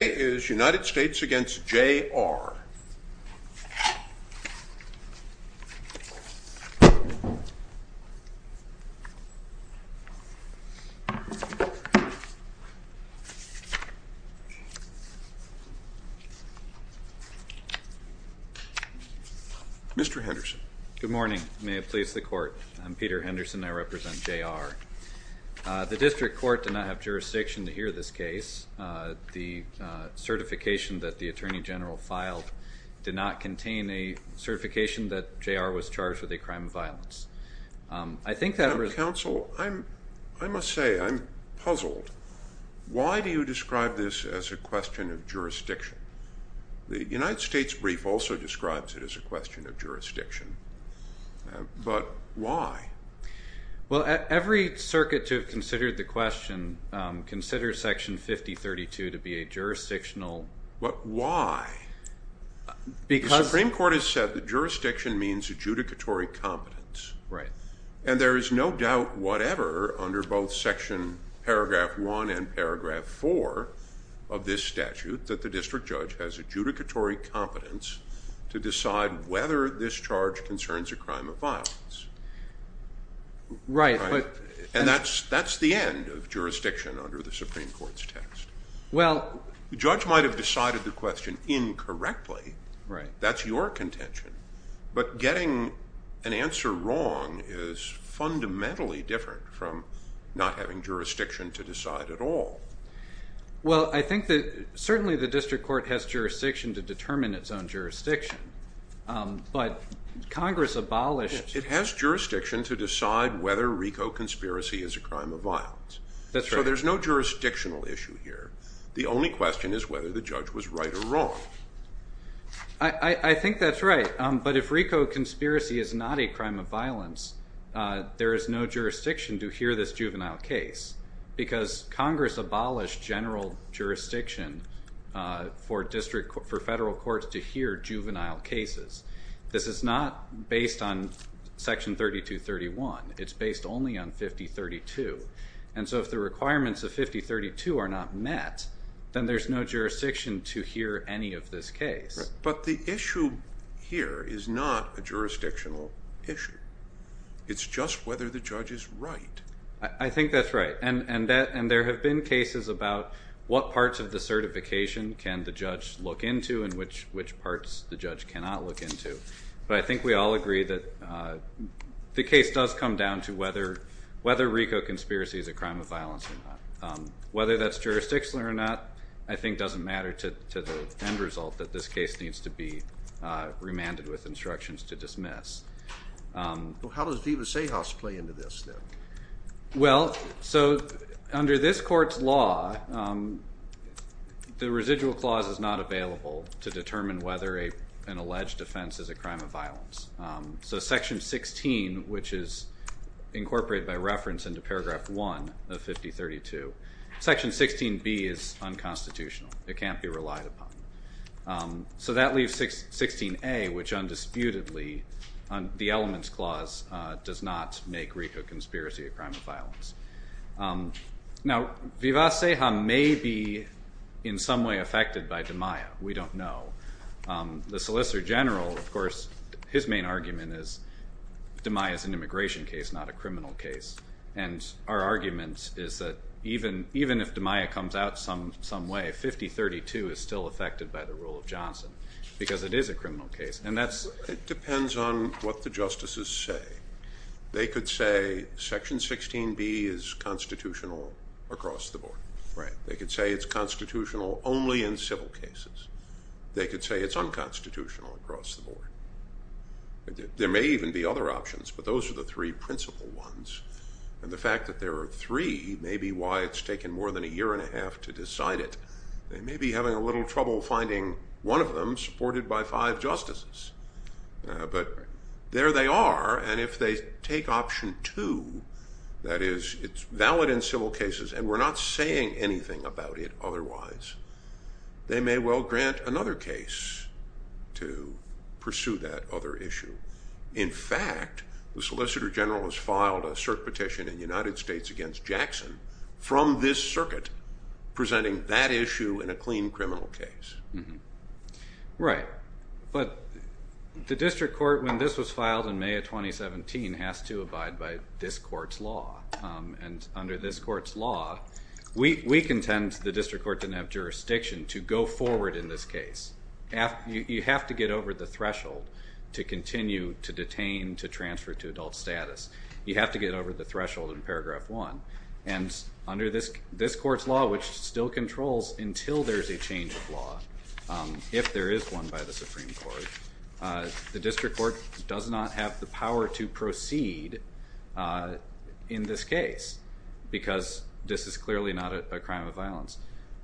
Good morning. May it please the court. I'm Peter Henderson. I represent J. R. The district court did not have jurisdiction to hear this case. The certification that the attorney general filed did not contain a certification that J. R. was charged with a crime of violence. I think that... Counsel, I must say I'm puzzled. Why do you describe this as a question of jurisdiction? The United States brief also describes it as a question of jurisdiction, but why? Well, every circuit to have considered the question considers Section 5032 to be a jurisdictional... But why? Because... The Supreme Court has said that jurisdiction means adjudicatory competence. Right. And there is no doubt whatever under both Section Paragraph 1 and Paragraph 4 of this statute that the district judge has adjudicatory competence to decide whether this charge concerns a crime of violence. Right, but... And that's the end of jurisdiction under the Supreme Court's test. Well... The judge might have decided the question incorrectly. Right. That's your contention, but getting an answer wrong is fundamentally different from not having jurisdiction to decide at all. Well, I think that certainly the district court has jurisdiction to determine its own jurisdiction, but Congress abolished... It has jurisdiction to decide whether RICO conspiracy is a crime of violence. That's right. So there's no jurisdictional issue here. The only question is whether the judge was right or wrong. I think that's right. But if RICO conspiracy is not a crime of violence, there is no jurisdiction to hear this juvenile case because Congress abolished general jurisdiction for federal courts to hear juvenile cases. This is not based on Section 3231. It's based only on 5032. And so if the requirements of 5032 are not met, then there's no jurisdiction to hear any of this case. But the issue here is not a jurisdictional issue. It's just whether the judge is right. I think that's right. And there have been cases about what parts of the certification can the judge look into and which parts the judge cannot look into. But I think we all agree that the case does come down to whether RICO conspiracy is a crime of violence or not. Whether that's jurisdictional or not, I think doesn't matter to the end result that this case needs to be remanded with instructions to dismiss. How does Deva Sahas play into this then? Well, so under this court's law, the residual clause is not available to determine whether an alleged offense is a crime of violence. So Section 16, which is incorporated by reference into Paragraph 1 of 5032, Section 16B is unconstitutional. It can't be relied upon. So that leaves 16A, which undisputedly, the elements clause, does not make RICO conspiracy a crime of violence. Now, Deva Sahas may be in some way affected by DeMaia. We don't know. The Solicitor General, of course, his main argument is DeMaia is an immigration case, not a criminal case. And our argument is that even if DeMaia comes out some way, 5032 is still affected by the rule of Johnson because it is a criminal case. It depends on what the justices say. They could say Section 16B is constitutional across the board. Right. They could say it's constitutional only in civil cases. There may even be other options, but those are the three principal ones. And the fact that there are three may be why it's taken more than a year and a half to decide it. They may be having a little trouble finding one of them supported by five justices. But there they are. And if they take option two, that is, it's valid in civil cases and we're not saying anything about it otherwise, they may well grant another case to pursue that other issue. In fact, the Solicitor General has filed a cert petition in the United States against Jackson from this circuit presenting that issue in a clean criminal case. Right. But the district court, when this was filed in May of 2017, has to abide by this court's law. And under this court's law, we contend the district court didn't have jurisdiction to go forward in this case. You have to get over the threshold to continue to detain, to transfer to adult status. You have to get over the threshold in paragraph one. And under this court's law, which still controls until there's a change of law, if there is one by the Supreme Court, the district court does not have the power to proceed in this case because this is clearly not a crime of violence.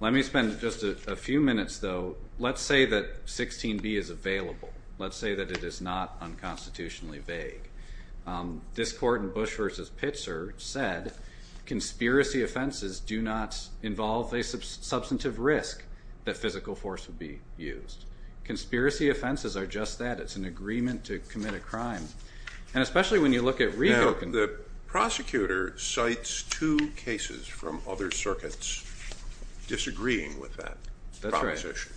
Let me spend just a few minutes, though. Let's say that 16b is available. Let's say that it is not unconstitutionally vague. This court in Bush v. Pitzer said conspiracy offenses do not involve a substantive risk that physical force would be used. Conspiracy offenses are just that. It's an agreement to commit a crime. And especially when you look at RICO. Now, the prosecutor cites two cases from other circuits disagreeing with that proposition. That's right.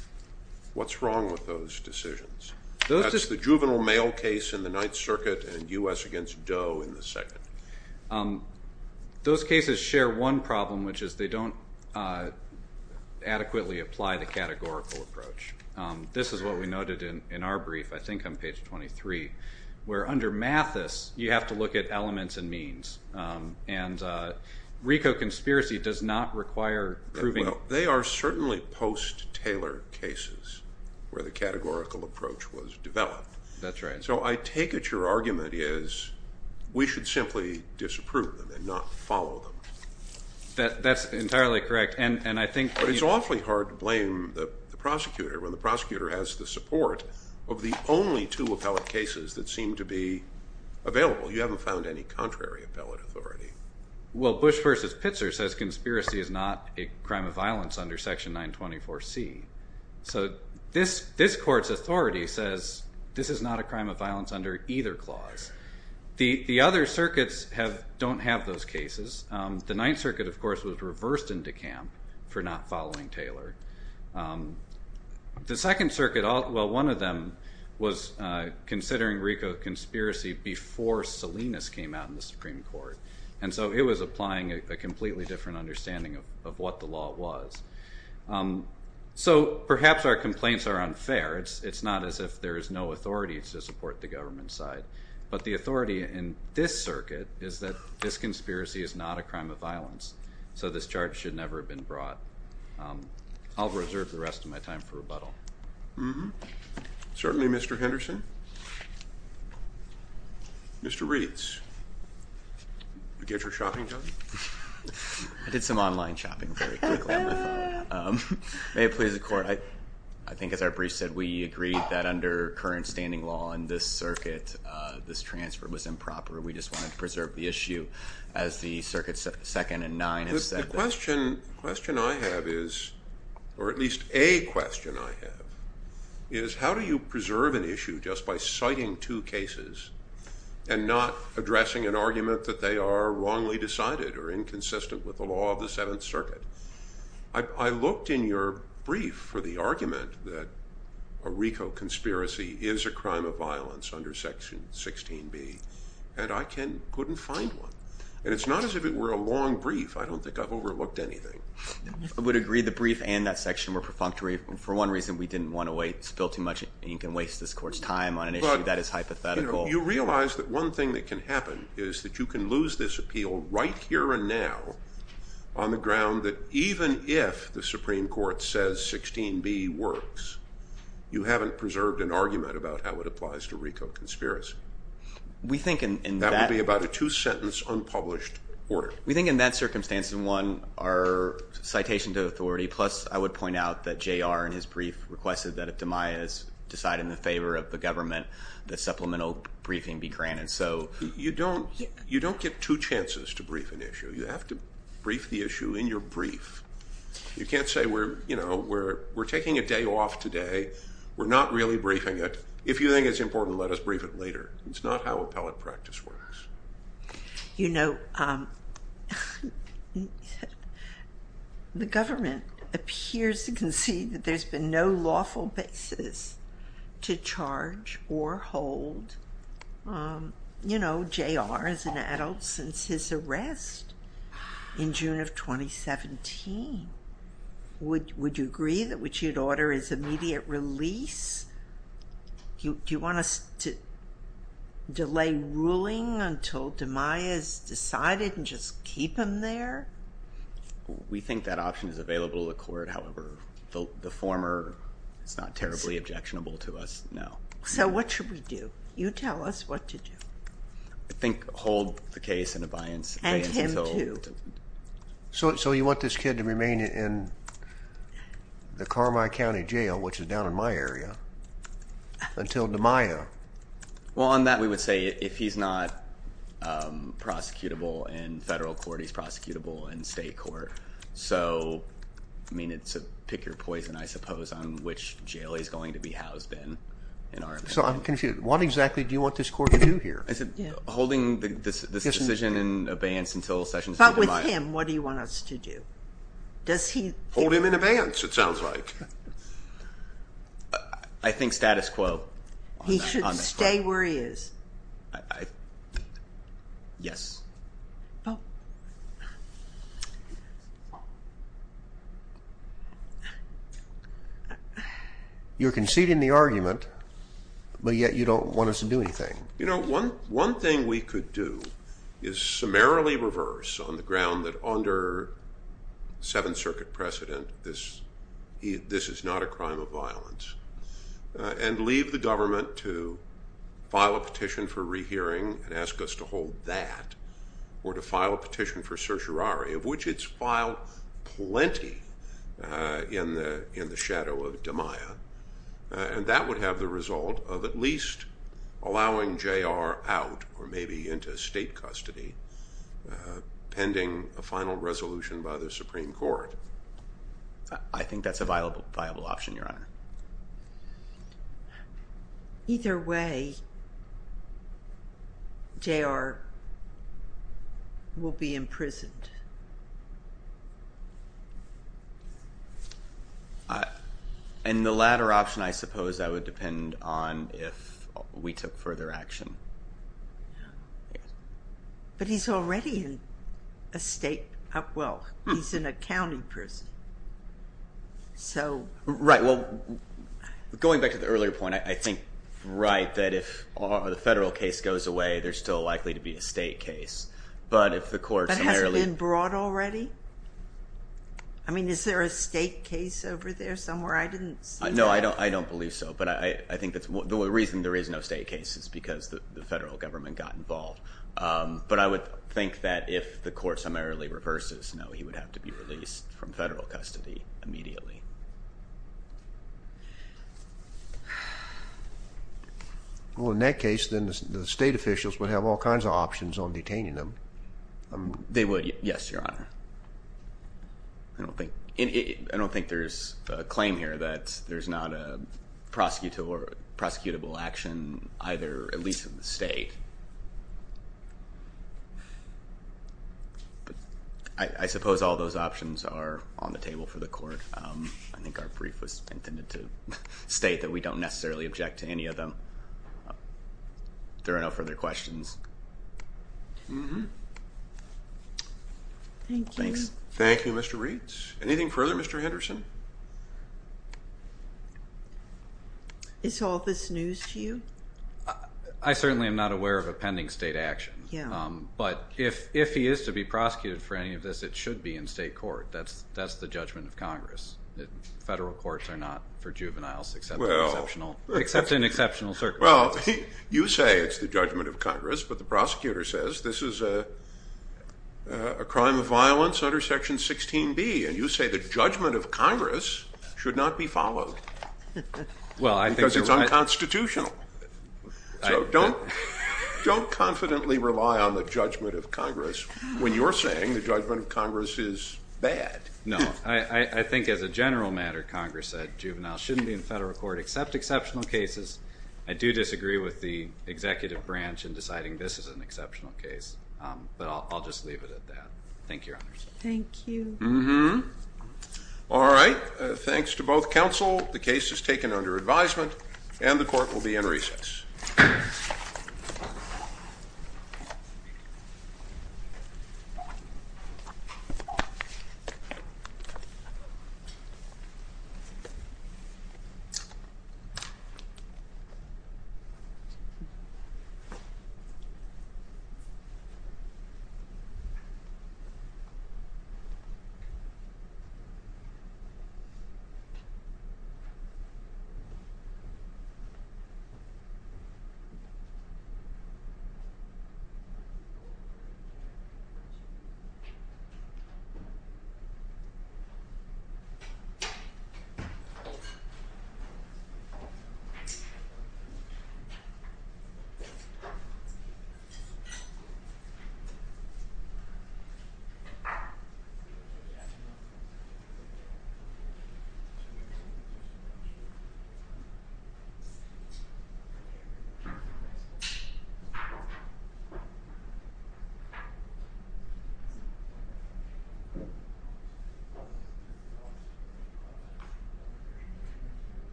What's wrong with those decisions? That's the juvenile mail case in the Ninth Circuit and U.S. v. Doe in the second. Those cases share one problem, which is they don't adequately apply the categorical approach. This is what we noted in our brief, I think on page 23, where under Mathis, you have to look at elements and means. And RICO conspiracy does not require proving. Well, they are certainly post-Taylor cases where the categorical approach was developed. That's right. So I take it your argument is we should simply disapprove them and not follow them. That's entirely correct. But it's awfully hard to blame the prosecutor when the prosecutor has the support of the only two appellate cases that seem to be available. You haven't found any contrary appellate authority. Well, Bush v. Pitzer says conspiracy is not a crime of violence under Section 924C. So this court's authority says this is not a crime of violence under either clause. The other circuits don't have those cases. The Ninth Circuit, of course, was reversed into camp for not following Taylor. The Second Circuit, well, one of them was considering RICO conspiracy before Salinas came out in the Supreme Court. And so it was applying a completely different understanding of what the law was. So perhaps our complaints are unfair. It's not as if there is no authority to support the government side. But the authority in this circuit is that this conspiracy is not a crime of violence. So this charge should never have been brought. I'll reserve the rest of my time for rebuttal. Certainly, Mr. Henderson. Mr. Reeds, did you get your shopping done? I did some online shopping very quickly on my phone. May it please the Court, I think as our brief said, we agreed that under current standing law in this circuit, this transfer was improper. We just wanted to preserve the issue as the Circuit 2nd and 9 have said. The question I have is, or at least a question I have, is how do you preserve an issue just by citing two cases and not addressing an argument that they are wrongly decided or inconsistent with the law of the Seventh Circuit? I looked in your brief for the argument that a RICO conspiracy is a crime of violence under Section 16b, and I couldn't find one. And it's not as if it were a long brief. I don't think I've overlooked anything. I would agree the brief and that section were perfunctory. For one reason, we didn't want to spill too much ink and waste this Court's time on an issue that is hypothetical. But you realize that one thing that can happen is that you can lose this appeal right here and now on the ground that even if the Supreme Court says 16b works, you haven't preserved an argument about how it applies to RICO conspiracy. That would be about a two-sentence unpublished order. We think in that circumstance, in one, our citation to authority, plus I would point out that J.R. in his brief requested that if DeMaias decided in the favor of the government that supplemental briefing be granted. You don't get two chances to brief an issue. You have to brief the issue in your brief. You can't say we're taking a day off today, we're not really briefing it. If you think it's important, let us brief it later. It's not how appellate practice works. You know, the government appears to concede that there's been no lawful basis to charge or hold, you know, J.R. as an adult since his arrest in June of 2017. Would you agree that what you'd order is immediate release? Do you want us to delay ruling until DeMaias decided and just keep him there? We think that option is available to the court. However, the former is not terribly objectionable to us, no. So what should we do? You tell us what to do. I think hold the case in abeyance. And him, too. So you want this kid to remain in the Carmi County Jail, which is down in my area, until DeMaias? Well, on that we would say if he's not prosecutable in federal court, he's prosecutable in state court. So, I mean, it's a pick your poison, I suppose, on which jail he's going to be housed in. So I'm confused. What exactly do you want this court to do here? Is it holding this decision in abeyance until Sessions is denied? But with him, what do you want us to do? Hold him in abeyance, it sounds like. I think status quo. He should stay where he is. Yes. Oh. You're conceding the argument, but yet you don't want us to do anything. You know, one thing we could do is summarily reverse on the ground that under Seventh Circuit precedent this is not a crime of violence and leave the government to file a petition for rehearing and ask us to hold that or to file a petition for certiorari, of which it's filed plenty in the shadow of DeMaias, and that would have the result of at least allowing J.R. out or maybe into state custody pending a final resolution by the Supreme Court. I think that's a viable option, Your Honor. Either way, J.R. will be imprisoned. And the latter option, I suppose, I would depend on if we took further action. But he's already in a state, well, he's in a county prison, so. Right. Well, going back to the earlier point, I think, right, that if the federal case goes away, there's still likely to be a state case. But if the courts summarily. But has it been brought already? I mean, is there a state case over there somewhere? I didn't see that. No, I don't believe so. The reason there is no state case is because the federal government got involved. But I would think that if the court summarily reverses, no, he would have to be released from federal custody immediately. Well, in that case, then the state officials would have all kinds of options on detaining him. They would, yes, Your Honor. I don't think there's a claim here that there's not a prosecutable action either, at least in the state. But I suppose all those options are on the table for the court. I think our brief was intended to state that we don't necessarily object to any of them. There are no further questions. Mm-hmm. Thank you. Thank you, Mr. Reitz. Anything further, Mr. Henderson? Is all this news to you? I certainly am not aware of a pending state action. Yeah. But if he is to be prosecuted for any of this, it should be in state court. That's the judgment of Congress. Federal courts are not for juveniles except in exceptional circumstances. Well, you say it's the judgment of Congress, but the prosecutor says this is a crime of violence under Section 16B, and you say the judgment of Congress should not be followed because it's unconstitutional. So don't confidently rely on the judgment of Congress when you're saying the judgment of Congress is bad. No. I think as a general matter, Congress said juveniles shouldn't be in federal court except exceptional cases. I do disagree with the executive branch in deciding this is an exceptional case, but I'll just leave it at that. Thank you, Your Honors. Thank you. Mm-hmm. All right. Thanks to both counsel. The case is taken under advisement, and the court will be in recess. Thank you. Thank you.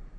Thank you. Thank you. Thank you.